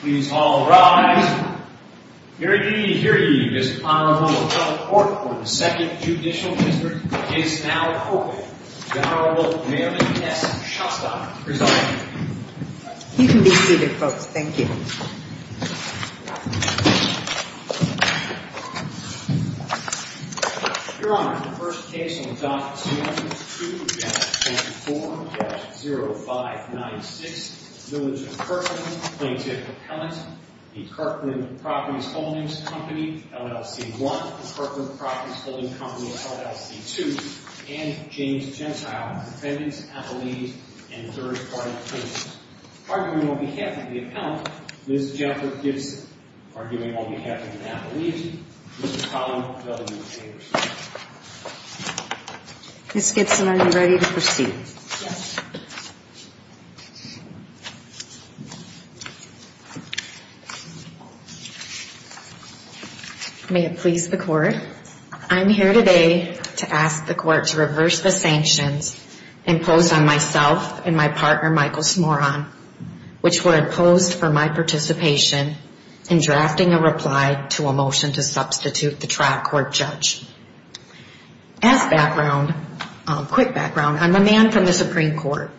Please all rise. Hear ye, hear ye. This Honorable Appellate Court for the 2nd Judicial District is now open. The Honorable Mary S. Shostock is up. You can be seated, folks. Thank you. Your Honor, the first case on Document 2-24-0596, Villager Kirkland, Plaintiff Appellant, Kirkland Properties Holdings Company, LLC I, Kirkland Properties Holdings Company, LLC II, and James Gentile, Defendant, Appellee, and Third-Party Apprentice. Arguing on behalf of the Appellant, Ms. Jennifer Gibson. Arguing on behalf of the Appellee, Ms. Collin Bell, you may proceed. Ms. Gibson, are you ready to proceed? Yes. May it please the Court, I'm here today to ask the Court to reverse the sanctions imposed on myself and my partner, Michael Smoron, which were imposed for my participation in drafting a reply to a motion to substitute the trial court judge. As background, quick background, I'm a man from the Supreme Court.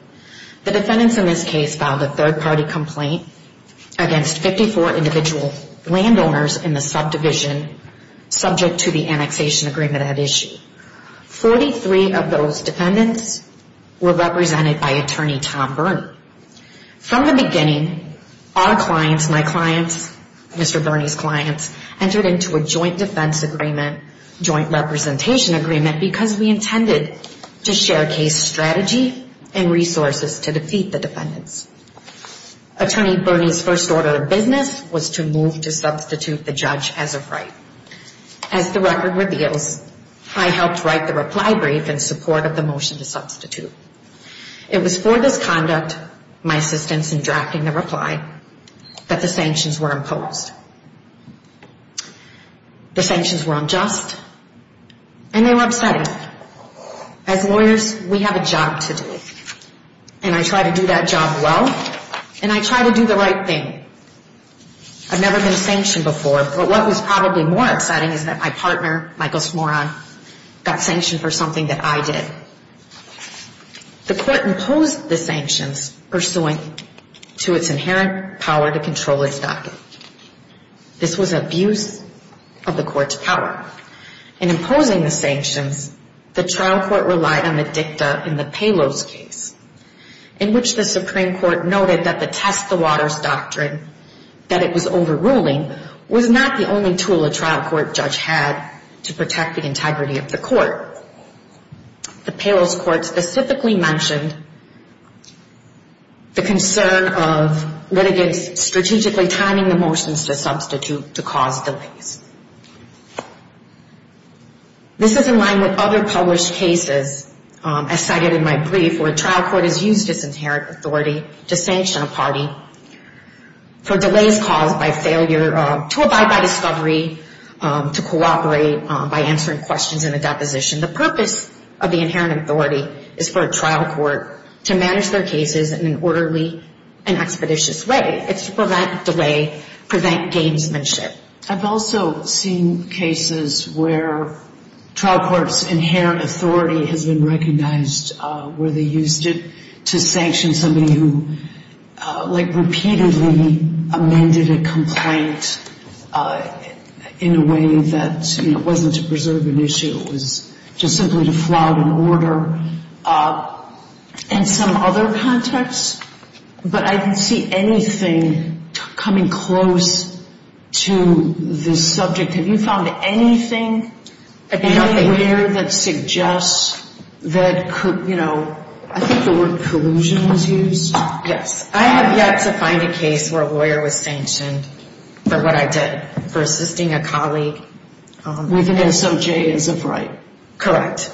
The defendants in this case filed a third-party complaint against 54 individual landowners in the subdivision subject to the annexation agreement at issue. Forty-three of those defendants were represented by Attorney Tom Byrne. From the beginning, our clients, my clients, Mr. Byrne's clients, entered into a joint defense agreement, joint representation agreement, because we intended to share case strategy and resources to defeat the defendants. Attorney Byrne's first order of business was to move to substitute the judge as of right. As the record reveals, I helped write the reply brief in support of the motion to substitute. It was for this conduct, my assistance in drafting the reply, that the sanctions were imposed. The sanctions were unjust, and they were upsetting. As lawyers, we have a job to do, and I try to do that job well, and I try to do the right thing. I've never been sanctioned before, but what was probably more exciting is that my partner, Michael Smoron, got sanctioned for something that I did. The court imposed the sanctions pursuant to its inherent power to control its docket. This was abuse of the court's power. In imposing the sanctions, the trial court relied on the dicta in the Palos case, in which the Supreme Court noted that the test the waters doctrine, that it was overruling, was not the only tool a trial court judge had to protect the integrity of the court. The Palos court specifically mentioned the concern of litigants strategically timing the motions to substitute to cause delays. This is in line with other published cases, as cited in my brief, where a trial court has used its inherent authority to sanction a party for delays caused by failure to abide by discovery, to cooperate by answering questions in a deposition. The purpose of the inherent authority is for a trial court to manage their cases in an orderly and expeditious way. It's to prevent delay, prevent gamesmanship. I've also seen cases where trial court's inherent authority has been recognized where they used it to sanction somebody who, like, repeatedly amended a complaint in a way that, you know, wasn't to preserve an issue. It was just simply to flout an order. And some other context, but I didn't see anything coming close to this subject. Have you found anything anywhere that suggests that, you know, I think the word collusion was used? Yes. I have yet to find a case where a lawyer was sanctioned for what I did, for assisting a colleague. With an SOJ as of right. Correct.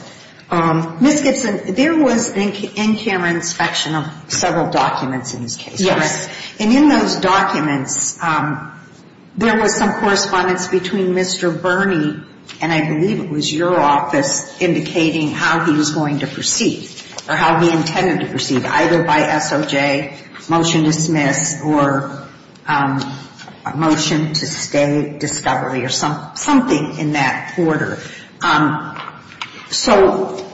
Ms. Gibson, there was an in-camera inspection of several documents in this case, correct? And in those documents, there was some correspondence between Mr. Birney, and I believe it was your office, indicating how he was going to proceed, or how he intended to proceed, either by SOJ, motion to dismiss, or a motion to stay, discovery, or some other way. There was something in that order. So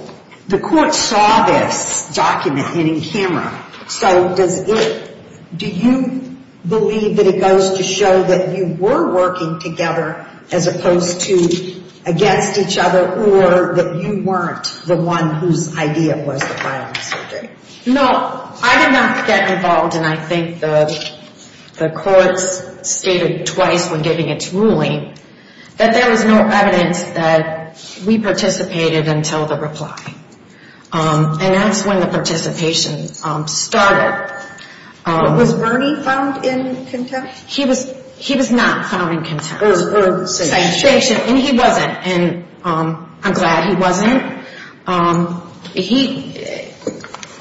the court saw this document in camera. So does it, do you believe that it goes to show that you were working together, as opposed to against each other, or that you weren't the one whose idea was the violence? No. I did not get involved, and I think the court's stated twice when giving its ruling, that there was no involvement. But there was no evidence that we participated until the reply. And that's when the participation started. Was Birney found in contempt? He was not found in contempt. Or sanctioned. And he wasn't. And I'm glad he wasn't.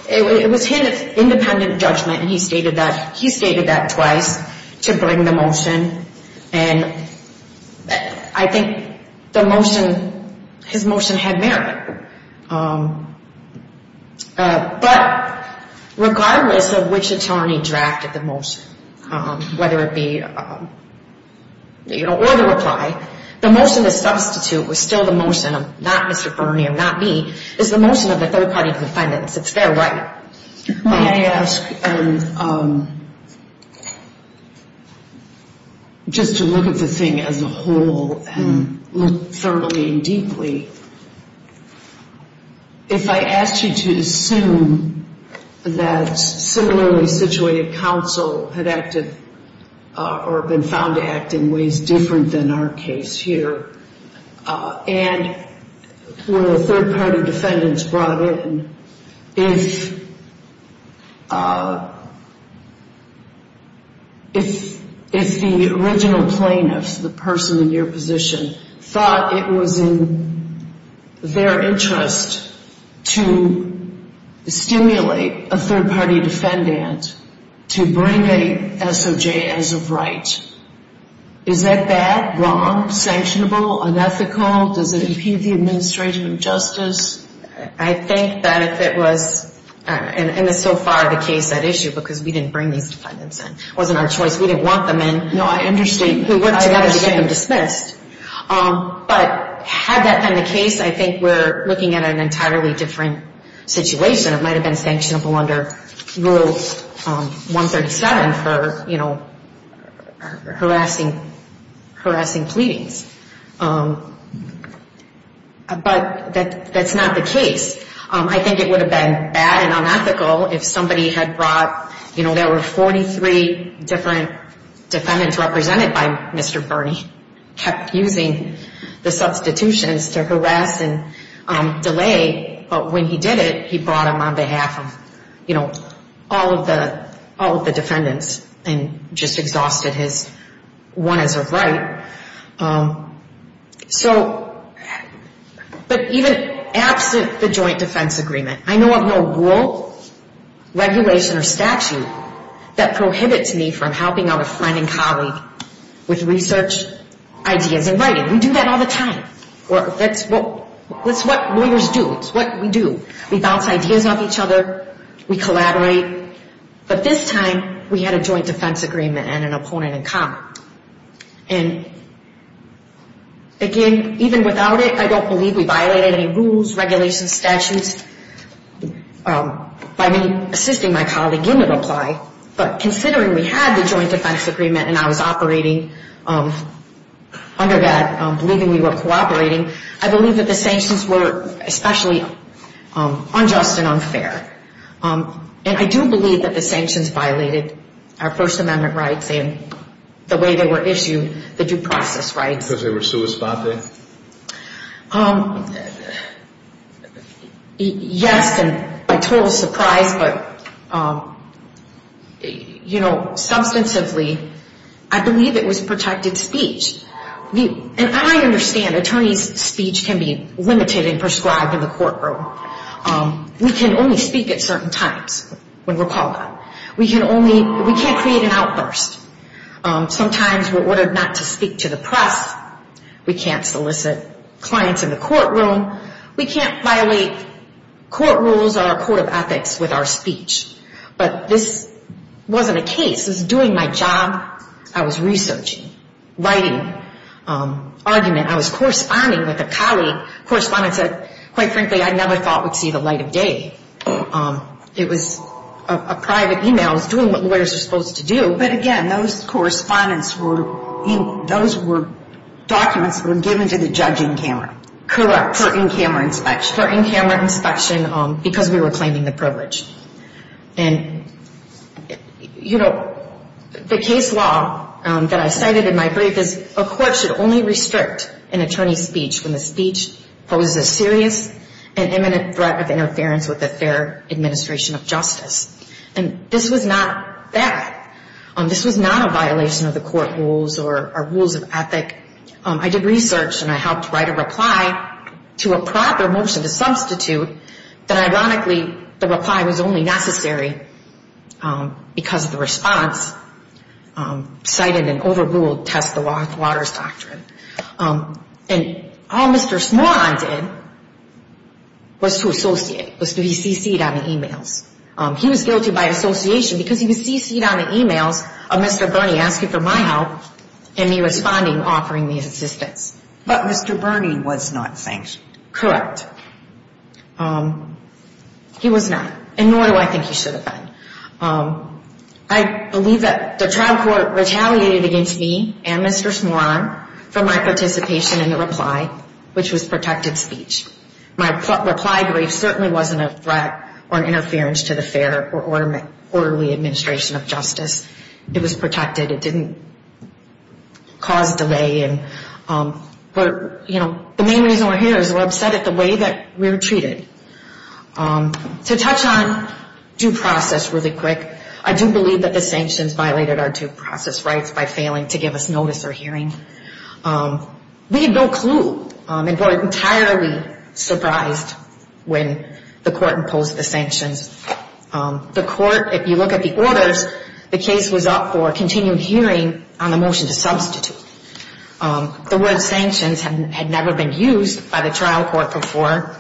It was his independent judgment, and he stated that twice to bring the motion. And I think the motion, his motion had merit. But regardless of which attorney drafted the motion, whether it be, you know, or the reply, the motion to substitute was still the motion of not Mr. Birney, or not me, is the motion of the third party defendant. It's their right. May I ask, just to look at the thing as a whole, and look thoroughly and deeply, if I asked you to assume that similarly situated counsel had acted, or been found to act in ways different than our case here, and were the third party defendants brought in, if the original plaintiff, the person in your position, thought it was in their interest to stimulate a third party defendant to bring a SOJ as of right, is that bad, wrong, sanctionable, unethical, does it impede the administration of justice? I think that if it was, and so far the case at issue, because we didn't bring these defendants in. It wasn't our choice. We didn't want them in. No, I understand. We worked together to get them dismissed. But had that been the case, I think we're looking at an entirely different situation. It might have been sanctionable under Rule 137 for, you know, harassing, harassing pleadings. But that's not the case. I think it would have been bad and unethical if somebody had brought, you know, there were 43 different defendants represented by Mr. Bernie, kept using the substitutions to harass and delay, but when he did it, he brought them on behalf of, you know, all of the defendants and just exhausted his one as of right. So, but even absent the joint defense agreement, I know of no rule, regulation, or statute that prohibits me from helping out a friend and colleague with research ideas in writing. We do that all the time. That's what lawyers do. It's what we do. We bounce ideas off each other. We collaborate. But this time we had a joint defense agreement and an opponent in common. And again, even without it, I don't believe we violated any rules, regulations, statutes. By me assisting my colleague, it would apply. But considering we had the joint defense agreement and I was operating under that, believing we were cooperating, I believe that the sanctions were especially unjust and unfair. And I do believe that the sanctions violated our First Amendment rights and the way they were issued, the due process rights. Because they were sui sponte? Yes, and by total surprise, but, you know, substantively, I believe it was protected speech. And I understand attorneys' speech can be limited and prescribed in the courtroom. We can only speak at certain times when we're called on. We can't create an outburst. Sometimes we're ordered not to speak to the press. We can't solicit clients in the courtroom. We can't violate court rules or a court of ethics with our speech. But this wasn't a case. This was doing my job. I was researching, writing, argument. I was corresponding with a colleague. Correspondent said, quite frankly, I never thought we'd see the light of day. It was a private email. I was doing what lawyers are supposed to do. But again, those correspondents were, those were documents that were given to the judge in camera. Correct. For in-camera inspection. Because we were claiming the privilege. And, you know, the case law that I cited in my brief is a court should only restrict an attorney's speech when the speech poses a serious and imminent threat of interference with the fair administration of justice. And this was not that. This was not a violation of the court rules or rules of ethic. I did research and I helped write a reply to a proper motion to substitute that, ironically, the reply was only necessary because of the response, cited an overruled test the waters doctrine. And all Mr. Smaran did was to associate, was to be CC'd on the emails. He was guilty by association because he was CC'd on the emails of Mr. Burney asking for my help and me responding, offering me assistance. But Mr. Burney was not sanctioned. Correct. He was not. And nor do I think he should have been. I believe that the trial court retaliated against me and Mr. Smaran for my participation in the reply, which was protected speech. My reply brief certainly wasn't a threat or an interference to the fair or orderly administration of justice. It was protected. It didn't cause delay. And, you know, the main reason we're here is we're upset at the way that we were treated. To touch on due process really quick, I do believe that the sanctions violated our due process rights by failing to give us notice or hearing. We had no clue and were entirely surprised when the court imposed the sanctions. The court, if you look at the orders, the case was up for continued hearing on the motion to substitute. The word sanctions had never been used by the trial court before.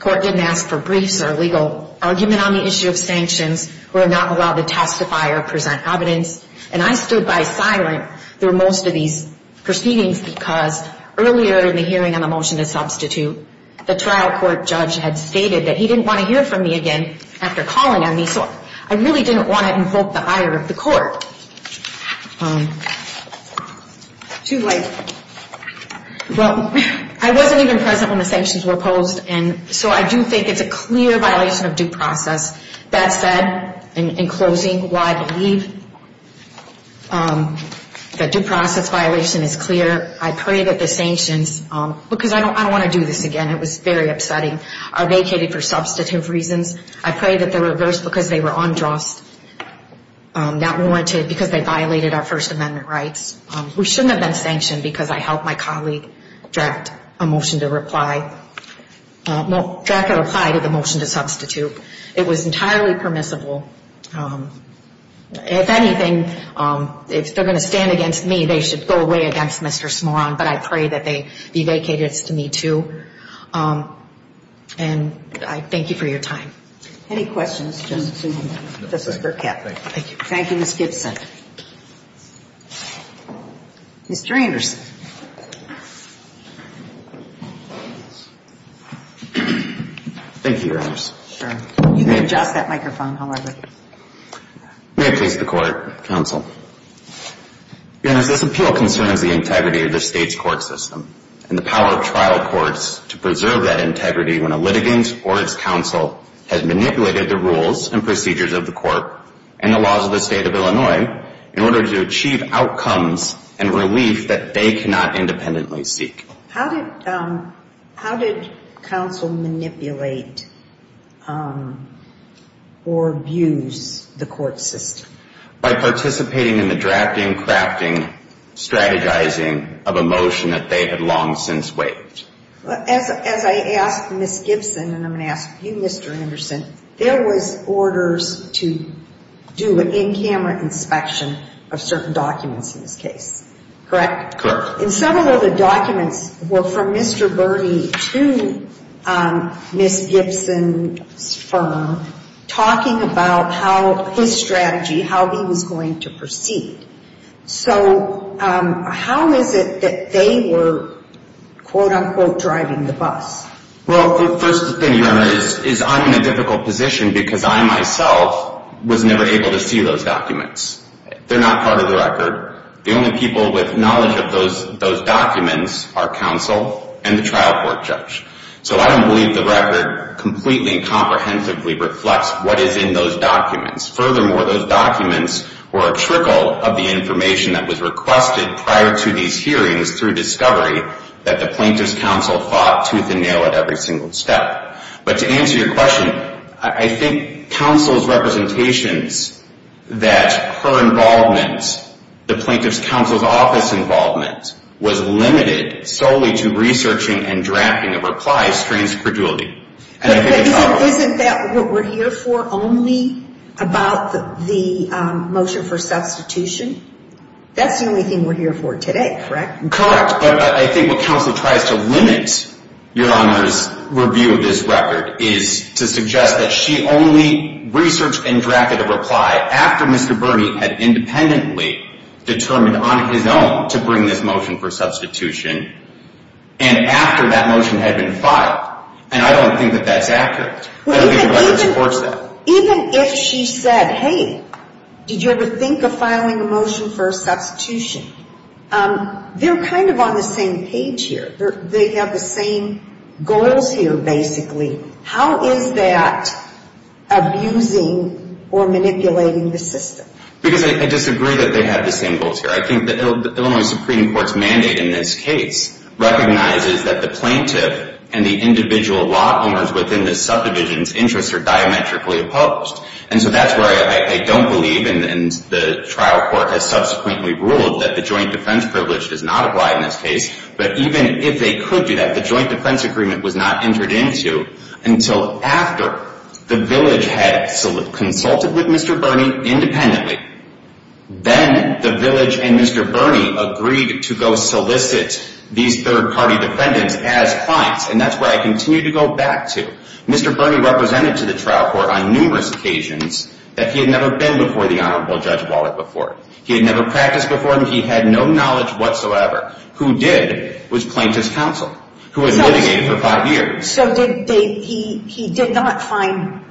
Court didn't ask for briefs or legal argument on the issue of sanctions. We're not allowed to testify or present evidence. And I stood by silent through most of these proceedings because earlier in the hearing on the motion to substitute, the trial court judge had stated that he didn't want to hear from me again after calling on me. So I really didn't want to invoke the ire of the court. Too late. Well, I wasn't even present when the sanctions were imposed. And so I do think it's a clear violation of due process. That said, in closing, while I believe the due process violation is clear, I pray that the sanctions, because I don't want to do this again, it was very upsetting, are vacated for substantive reasons. I pray that they're reversed because they were unjust, not warranted because they violated our First Amendment rights. We shouldn't have been sanctioned because I helped my colleague draft a reply to the motion to substitute. It was entirely permissible. If anything, if they're going to stand against me, they should go away against Mr. Smaran, but I pray that they be vacated to me, too. And I thank you for your time. Any questions, Justice Sotomayor? No, thank you. Thank you, Ms. Gibson. Mr. Anderson. Thank you, Your Honors. Sure. You can adjust that microphone, however. May it please the Court, counsel. Your Honors, this appeal concerns the integrity of the state's court system and the power of trial courts to preserve that integrity when a litigant or its counsel has manipulated the rules and procedures of the court and the laws of the state of Illinois in order to achieve outcomes and relief that they cannot independently seek. How did counsel manipulate or abuse the court system? By participating in the drafting, crafting, strategizing of a motion that they had long since waived. As I asked Ms. Gibson and I'm going to ask you, Mr. Anderson, there was orders to do an in-camera inspection of certain documents in this case, correct? Correct. And several of the documents were from Mr. Birney to Ms. Gibson's firm, talking about how his strategy, how he was going to proceed. So how is it that they were, quote, unquote, driving the bus? Well, first thing, Your Honor, is I'm in a difficult position because I myself was never able to see those documents. They're not part of the record. The only people with knowledge of those documents are counsel and the trial court judge. So I don't believe the record completely and comprehensively reflects what is in those documents. Furthermore, those documents were a trickle of the information that was requested prior to these hearings through discovery that the plaintiff's counsel fought tooth and nail at every single step. But to answer your question, I think counsel's representations that her involvement, the plaintiff's counsel's office involvement, was limited solely to researching and drafting of replies strains credulity. Isn't that what we're here for, only about the motion for substitution? That's the only thing we're here for today, correct? Correct, but I think what counsel tries to limit, Your Honor's review of this record, is to suggest that she only researched and drafted a reply after Mr. Burney had independently determined on his own to bring this motion for substitution and after that motion had been filed. And I don't think that that's accurate. I don't think the record supports that. So even if she said, hey, did you ever think of filing a motion for substitution? They're kind of on the same page here. They have the same goals here, basically. How is that abusing or manipulating the system? Because I disagree that they have the same goals here. I think the Illinois Supreme Court's mandate in this case recognizes that the plaintiff and the individual law owners within the subdivision's interests are diametrically opposed. And so that's where I don't believe, and the trial court has subsequently ruled, that the joint defense privilege does not apply in this case. But even if they could do that, the joint defense agreement was not entered into until after the village had consulted with Mr. Burney independently. Then the village and Mr. Burney agreed to go solicit these third-party defendants as clients. And that's where I continue to go back to. Mr. Burney represented to the trial court on numerous occasions that he had never been before the Honorable Judge Wallet before. He had never practiced before him. He had no knowledge whatsoever. Who did was plaintiff's counsel, who had litigated for five years. So he did not find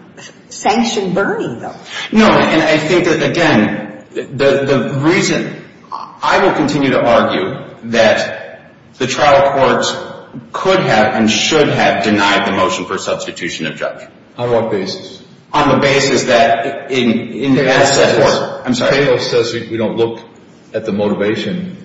sanctioned Burney, though? No, and I think that, again, the reason I will continue to argue that the trial court could have and should have denied the motion for substitution of judge. On what basis? On the basis that in that sense. If Palos says we don't look at the motivation,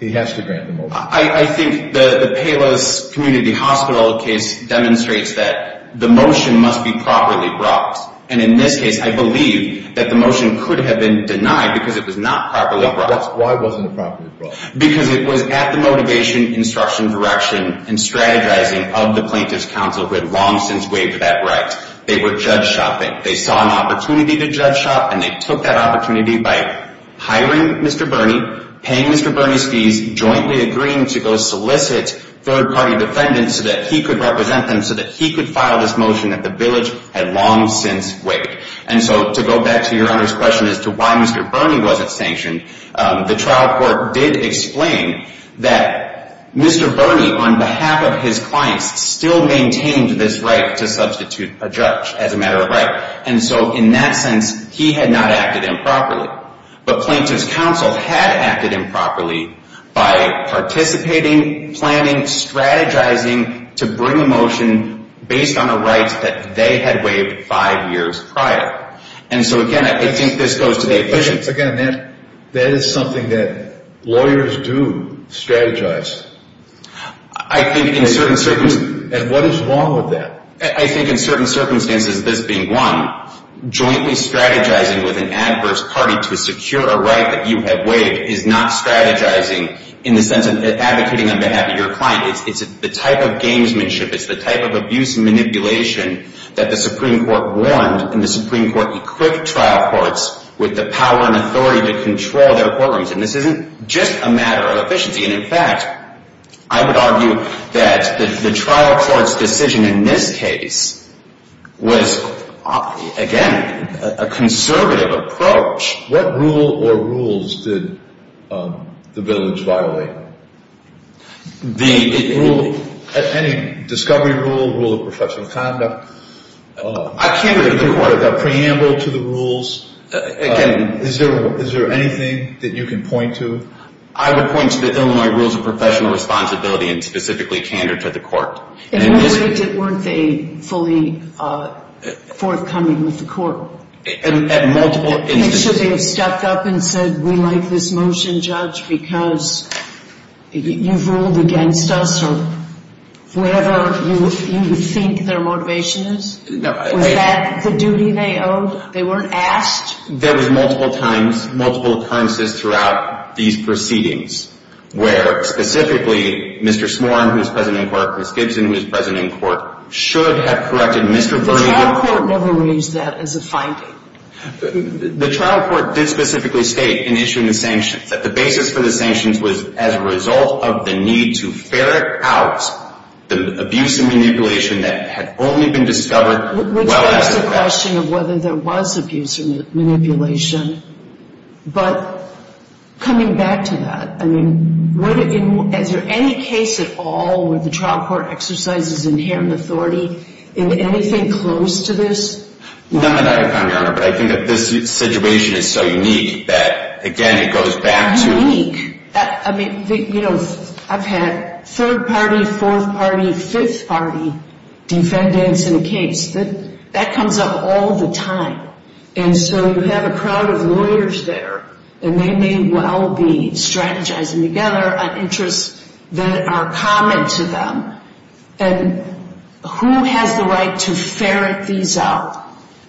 he has to grant the motion. I think the Palos Community Hospital case demonstrates that the motion must be properly brought. And in this case, I believe that the motion could have been denied because it was not properly brought. Why wasn't it properly brought? Because it was at the motivation, instruction, direction, and strategizing of the plaintiff's counsel who had long since waived that right. They were judge shopping. They saw an opportunity to judge shop, and they took that opportunity by hiring Mr. Burney, paying Mr. Burney's fees, jointly agreeing to go solicit third-party defendants so that he could represent them so that he could file this motion that the village had long since waived. And so to go back to Your Honor's question as to why Mr. Burney wasn't sanctioned, the trial court did explain that Mr. Burney, on behalf of his clients, still maintained this right to substitute a judge as a matter of right. And so in that sense, he had not acted improperly. But plaintiff's counsel had acted improperly by participating, planning, strategizing to bring a motion based on a right that they had waived five years prior. And so, again, I think this goes to the officials. Again, that is something that lawyers do, strategize. I think in certain circumstances. And what is wrong with that? I think in certain circumstances, this being one, jointly strategizing with an adverse party to secure a right that you have waived is not strategizing in the sense of advocating on behalf of your client. It's the type of gamesmanship. It's the type of abuse and manipulation that the Supreme Court warned and the Supreme Court equipped trial courts with the power and authority to control their courtrooms. And this isn't just a matter of efficiency. And, in fact, I would argue that the trial court's decision in this case was, again, a conservative approach. What rule or rules did the village violate? The rule. Any discovery rule, rule of professional conduct. I can't agree with the court. The preamble to the rules. Again. Is there anything that you can point to? I would point to the Illinois rules of professional responsibility and specifically candor to the court. In what way weren't they fully forthcoming with the court? At multiple instances. Should they have stepped up and said, we like this motion, Judge, because you've ruled against us or whatever you think their motivation is? Was that the duty they owed? They weren't asked? There was multiple times, multiple times throughout these proceedings where specifically Mr. Smorin, who is present in court, Chris Gibson, who is present in court, should have corrected Mr. Bernier. But the trial court never raised that as a finding. The trial court did specifically state in issuing the sanctions that the basis for the sanctions was as a result of the need to ferret out the abuse and manipulation that had only been discovered well after the fact. It's a question of whether there was abuse or manipulation. But coming back to that, I mean, is there any case at all where the trial court exercises inherent authority in anything close to this? None, Your Honor. But I think that this situation is so unique that, again, it goes back to. I mean, you know, I've had third-party, fourth-party, fifth-party defendants in a case. That comes up all the time. And so you have a crowd of lawyers there, and they may well be strategizing together on interests that are common to them. And who has the right to ferret these out?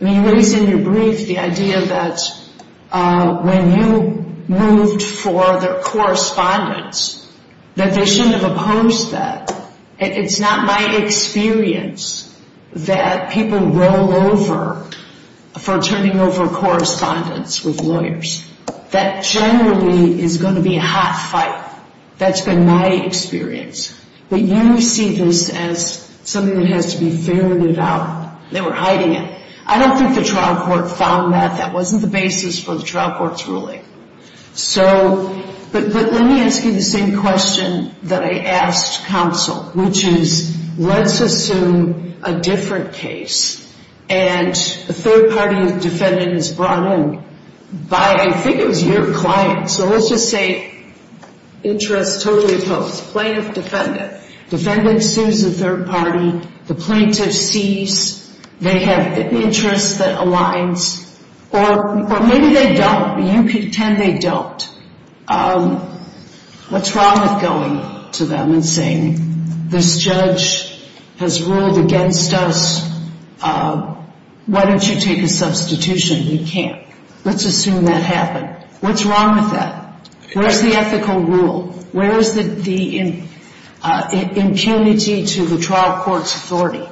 I mean, you raised in your brief the idea that when you moved for the correspondence, that they shouldn't have opposed that. It's not my experience that people roll over for turning over correspondence with lawyers. That generally is going to be a hot fight. That's been my experience. But you see this as something that has to be ferreted out. They were hiding it. I don't think the trial court found that. That wasn't the basis for the trial court's ruling. But let me ask you the same question that I asked counsel, which is, let's assume a different case, and a third-party defendant is brought in by, I think it was your client. So let's just say interests totally opposed. Plaintiff, defendant. Defendant sues the third party. The plaintiff sees they have interests that aligns. Or maybe they don't. You pretend they don't. What's wrong with going to them and saying, this judge has ruled against us. Why don't you take a substitution? You can't. Let's assume that happened. What's wrong with that? Where's the ethical rule? Where is the impunity to the trial court's authority?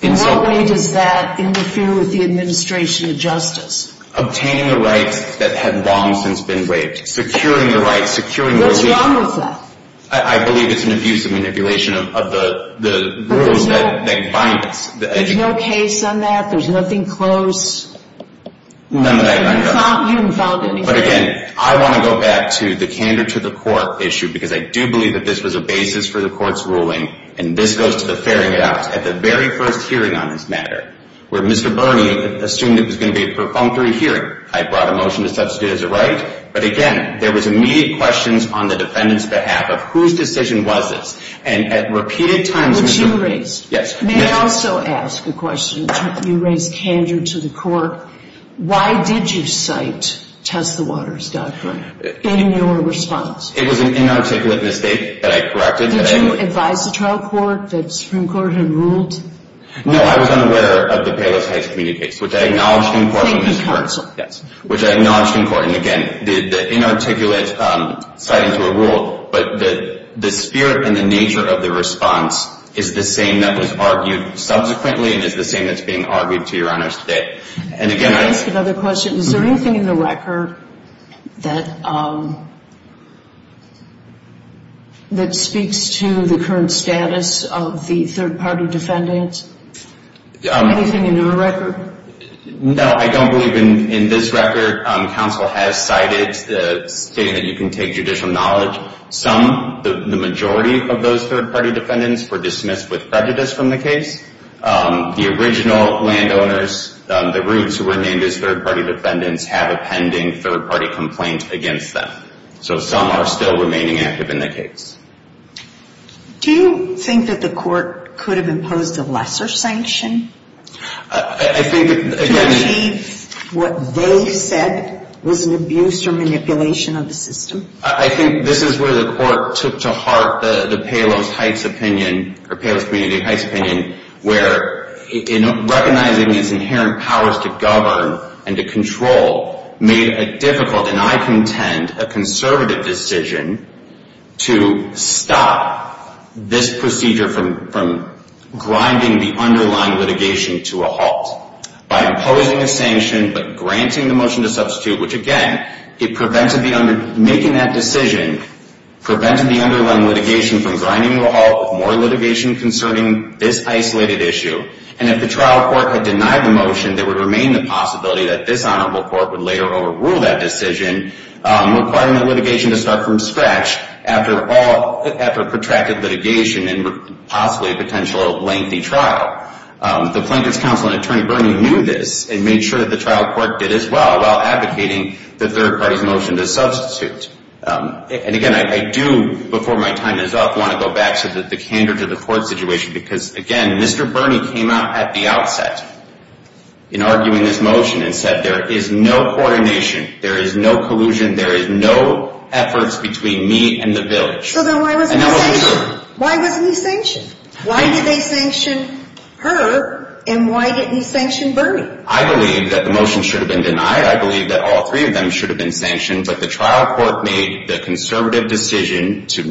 In what way does that interfere with the administration of justice? Obtaining the rights that have long since been waived. Securing the rights. What's wrong with that? I believe it's an abuse of manipulation of the rules that bind us. There's no case on that? There's nothing close? None that I know of. You haven't filed anything? But again, I want to go back to the candor to the court issue. Because I do believe that this was a basis for the court's ruling. And this goes to the fairing it out. At the very first hearing on this matter, where Mr. Birney assumed it was going to be a perfunctory hearing. I brought a motion to substitute as a right. But again, there was immediate questions on the defendant's behalf of whose decision was this. And at repeated times. Which you raised. Yes. May I also ask a question? You raised candor to the court. Why did you cite test the waters doctrine in your response? It was an inarticulate mistake that I corrected. Did you advise the trial court that Supreme Court had ruled? No, I was unaware of the Payless Heights Community case. Which I acknowledged in court. In the council? Yes. Which I acknowledged in court. And again, the inarticulate citing to a rule. But the spirit and the nature of the response is the same that was argued subsequently. And is the same that's being argued to your honors today. May I ask another question? Is there anything in the record that speaks to the current status of the third party defendant? Anything in your record? No, I don't believe in this record. The third party defendants were dismissed with prejudice from the case. The original landowners, the roots who were named as third party defendants, have a pending third party complaint against them. So some are still remaining active in the case. Do you think that the court could have imposed a lesser sanction? To achieve what they said was an abuse or manipulation of the system? I think this is where the court took to heart the Payless Heights opinion, or Payless Community Heights opinion, where recognizing its inherent powers to govern and to control made a difficult and, I contend, a conservative decision to stop this procedure from grinding the underlying litigation to a halt. By imposing a sanction but granting the motion to substitute, which again, making that decision, prevented the underlying litigation from grinding to a halt with more litigation concerning this isolated issue. And if the trial court had denied the motion, there would remain the possibility that this honorable court would later overrule that decision, requiring the litigation to start from scratch after protracted litigation and possibly a potential lengthy trial. The Plankett's counsel and attorney, Bernie, knew this and made sure that the trial court did as well while advocating the third party's motion to substitute. And again, I do, before my time is up, want to go back to the candor to the court situation because, again, Mr. Bernie came out at the outset in arguing this motion and said there is no coordination, there is no collusion, there is no efforts between me and the village. So then why wasn't he sanctioned? Why did they sanction her and why didn't he sanction Bernie? I believe that the motion should have been denied. I believe that all three of them should have been sanctioned. But the trial court made the conservative decision to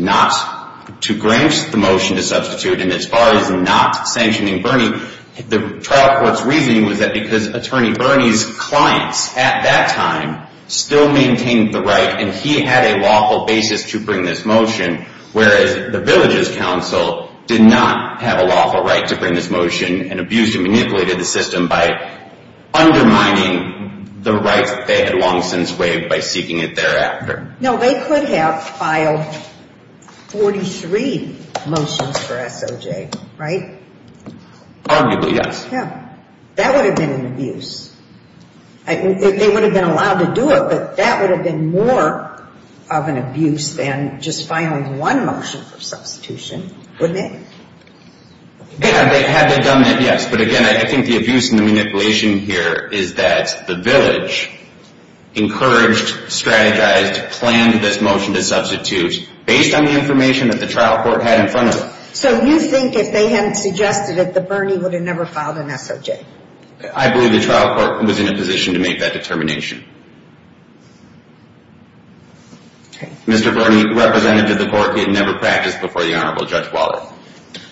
grant the motion to substitute. And as far as not sanctioning Bernie, the trial court's reasoning was that because attorney Bernie's clients at that time still maintained the right and he had a lawful basis to bring this motion, whereas the village's counsel did not have a lawful right to bring this motion and abused and manipulated the system by undermining the rights that they had long since waived by seeking it thereafter. No, they could have filed 43 motions for SOJ, right? Arguably, yes. Yeah, that would have been an abuse. They would have been allowed to do it, but that would have been more of an abuse than just filing one motion for substitution, wouldn't it? Yeah, they had to have done that, yes. But again, I think the abuse and the manipulation here is that the village encouraged, strategized, planned this motion to substitute based on the information that the trial court had in front of them. So you think if they hadn't suggested it, that Bernie would have never filed an SOJ? I believe the trial court was in a position to make that determination. Mr. Bernie, representative of the court, had never practiced before the Honorable Judge Waller.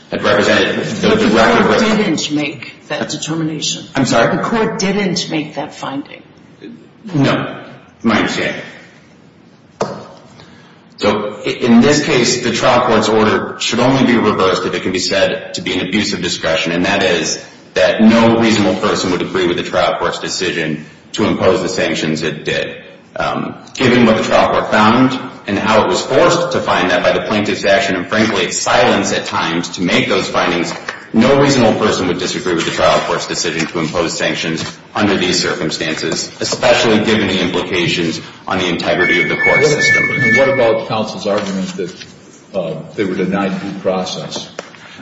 But the court didn't make that determination. I'm sorry? The court didn't make that finding. No, my understanding. So, in this case, the trial court's order should only be reversed if it can be said to be an abuse of discretion, and that is that no reasonable person would agree with the trial court's decision to impose the sanctions it did. Given what the trial court found, and how it was forced to find that by the plaintiff's action, and frankly, silence at times to make those findings, no reasonable person would disagree with the trial court's decision to impose sanctions under these circumstances, especially given the implications on the integrity of the court system. And what about counsel's argument that they were denied due process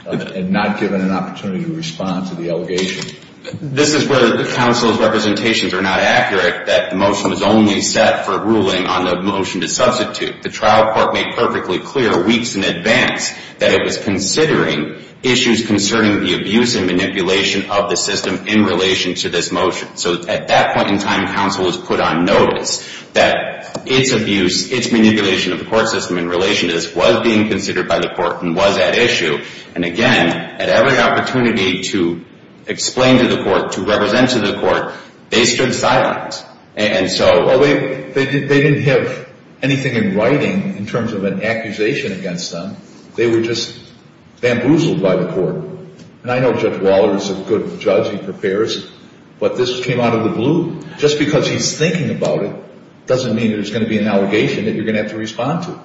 and not given an opportunity to respond to the allegation? This is where the counsel's representations are not accurate, that the motion was only set for ruling on the motion to substitute. The trial court made perfectly clear weeks in advance that it was considering issues concerning the abuse and manipulation of the system in relation to this motion. So, at that point in time, counsel was put on notice that its abuse, its manipulation of the court system in relation to this, was being considered by the court and was at issue. And, again, at every opportunity to explain to the court, to represent to the court, they stood silent. And so... Well, they didn't have anything in writing in terms of an accusation against them. They were just bamboozled by the court. And I know Judge Waller is a good judge. He prepares. But this came out of the blue. Just because he's thinking about it doesn't mean there's going to be an allegation that you're going to have to respond to.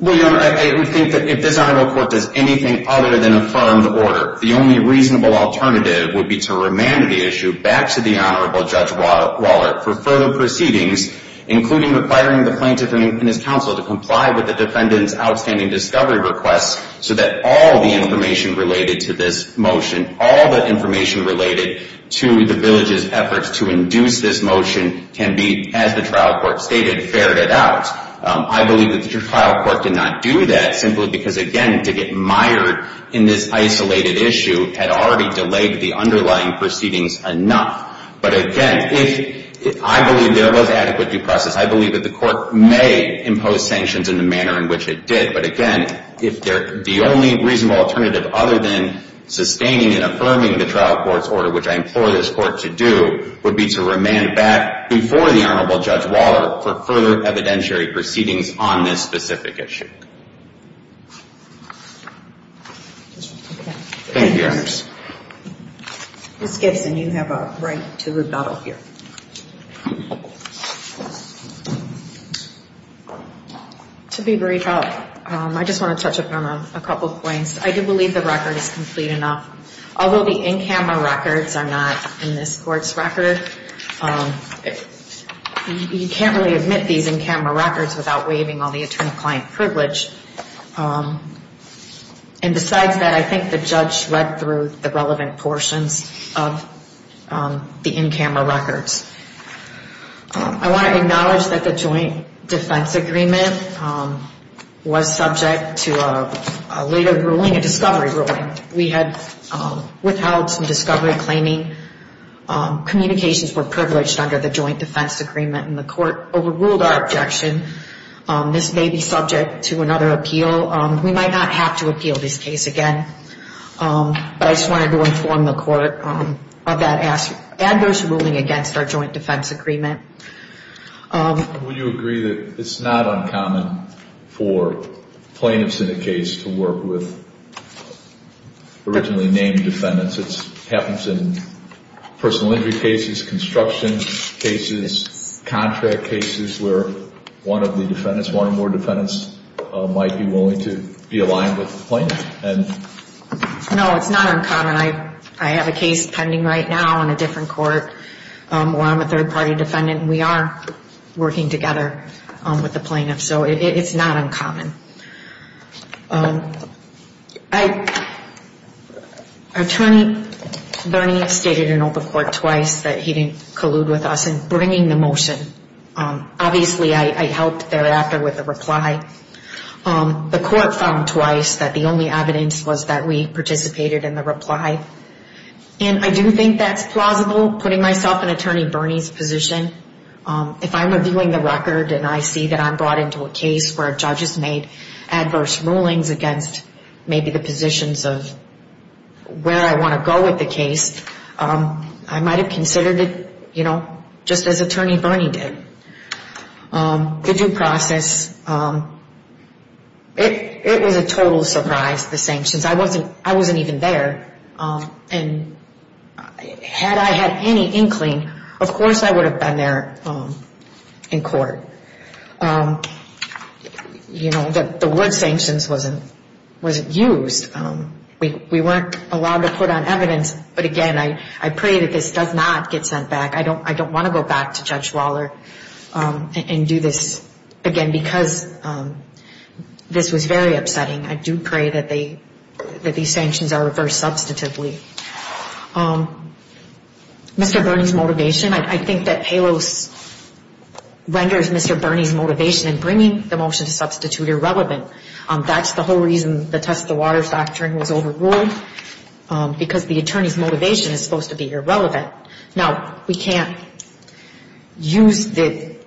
Well, Your Honor, I would think that if this Honorable Court does anything other than affirm the order, the only reasonable alternative would be to remand the issue back to the Honorable Judge Waller for further proceedings, including requiring the plaintiff and his counsel to comply with the defendant's outstanding discovery request so that all the information related to this motion, all the information related to the village's efforts to induce this motion, can be, as the trial court stated, ferreted out. I believe that the trial court did not do that simply because, again, to get mired in this isolated issue had already delayed the underlying proceedings enough. But, again, I believe there was adequate due process. I believe that the court may impose sanctions in the manner in which it did. But, again, the only reasonable alternative other than sustaining and affirming the trial court's order, which I implore this court to do, would be to remand back before the Honorable Judge Waller for further evidentiary proceedings on this specific issue. Thank you, Your Honors. Ms. Gibson, you have a right to rebuttal here. To be brief, I just want to touch upon a couple of points. I do believe the record is complete enough. Although the in-camera records are not in this court's record, you can't really admit these in-camera records without waiving all the attorney-client privilege. And besides that, I think the judge read through the relevant portions of the in-camera records. I want to acknowledge that the joint defense agreement was subject to a later ruling, a discovery ruling. We had withheld some discovery claiming communications were privileged under the joint defense agreement, and the court overruled our objection. This may be subject to another appeal. We might not have to appeal this case again. But I just wanted to inform the court of that adverse ruling against our joint defense agreement. Would you agree that it's not uncommon for plaintiffs in a case to work with originally named defendants? It happens in personal injury cases, construction cases, contract cases, where one of the defendants, one or more defendants, might be willing to be aligned with the plaintiff? No, it's not uncommon. I have a case pending right now in a different court where I'm a third-party defendant, and we are working together with the plaintiff. So it's not uncommon. Our attorney, Bernie, stated in open court twice that he didn't collude with us in bringing the motion. Obviously, I helped thereafter with the reply. The court found twice that the only evidence was that we participated in the reply. And I do think that's plausible, putting myself in Attorney Bernie's position. If I'm reviewing the record and I see that I'm brought into a case where a judge has made adverse rulings against maybe the positions of where I want to go with the case, I might have considered it just as Attorney Bernie did. The due process, it was a total surprise, the sanctions. I wasn't even there, and had I had any inkling, of course I would have been there in court. The word sanctions wasn't used. We weren't allowed to put on evidence. But again, I pray that this does not get sent back. I don't want to go back to Judge Waller and do this again because this was very upsetting. I do pray that these sanctions are reversed substantively. Mr. Bernie's motivation, I think that HALOS renders Mr. Bernie's motivation in bringing the motion to substitute irrelevant. That's the whole reason the test of the water doctrine was overruled, because the attorney's motivation is supposed to be irrelevant. Now, we can't use the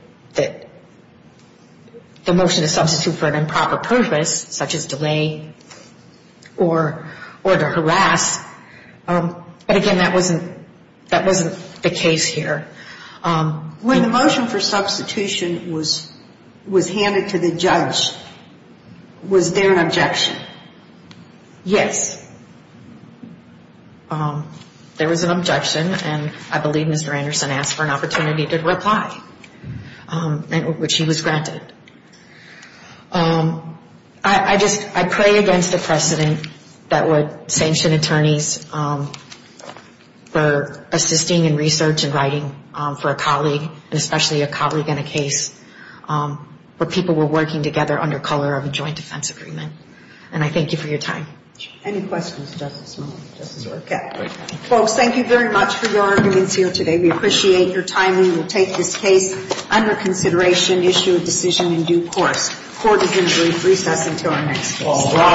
motion to substitute for an improper purpose, such as delay or to harass. But again, that wasn't the case here. When the motion for substitution was handed to the judge, was there an objection? Yes. There was an objection, and I believe Mr. Anderson asked for an opportunity to reply, which he was granted. I just pray against the precedent that would sanction attorneys for assisting in research and writing for a colleague, and especially a colleague in a case where people were working together under color of a joint defense agreement. And I thank you for your time. Any questions, Justice Miller, Justice Orr? Okay. Folks, thank you very much for your arguments here today. We appreciate your time. We will take this case under consideration, issue a decision in due course. Court is adjourned. Recess until our next case.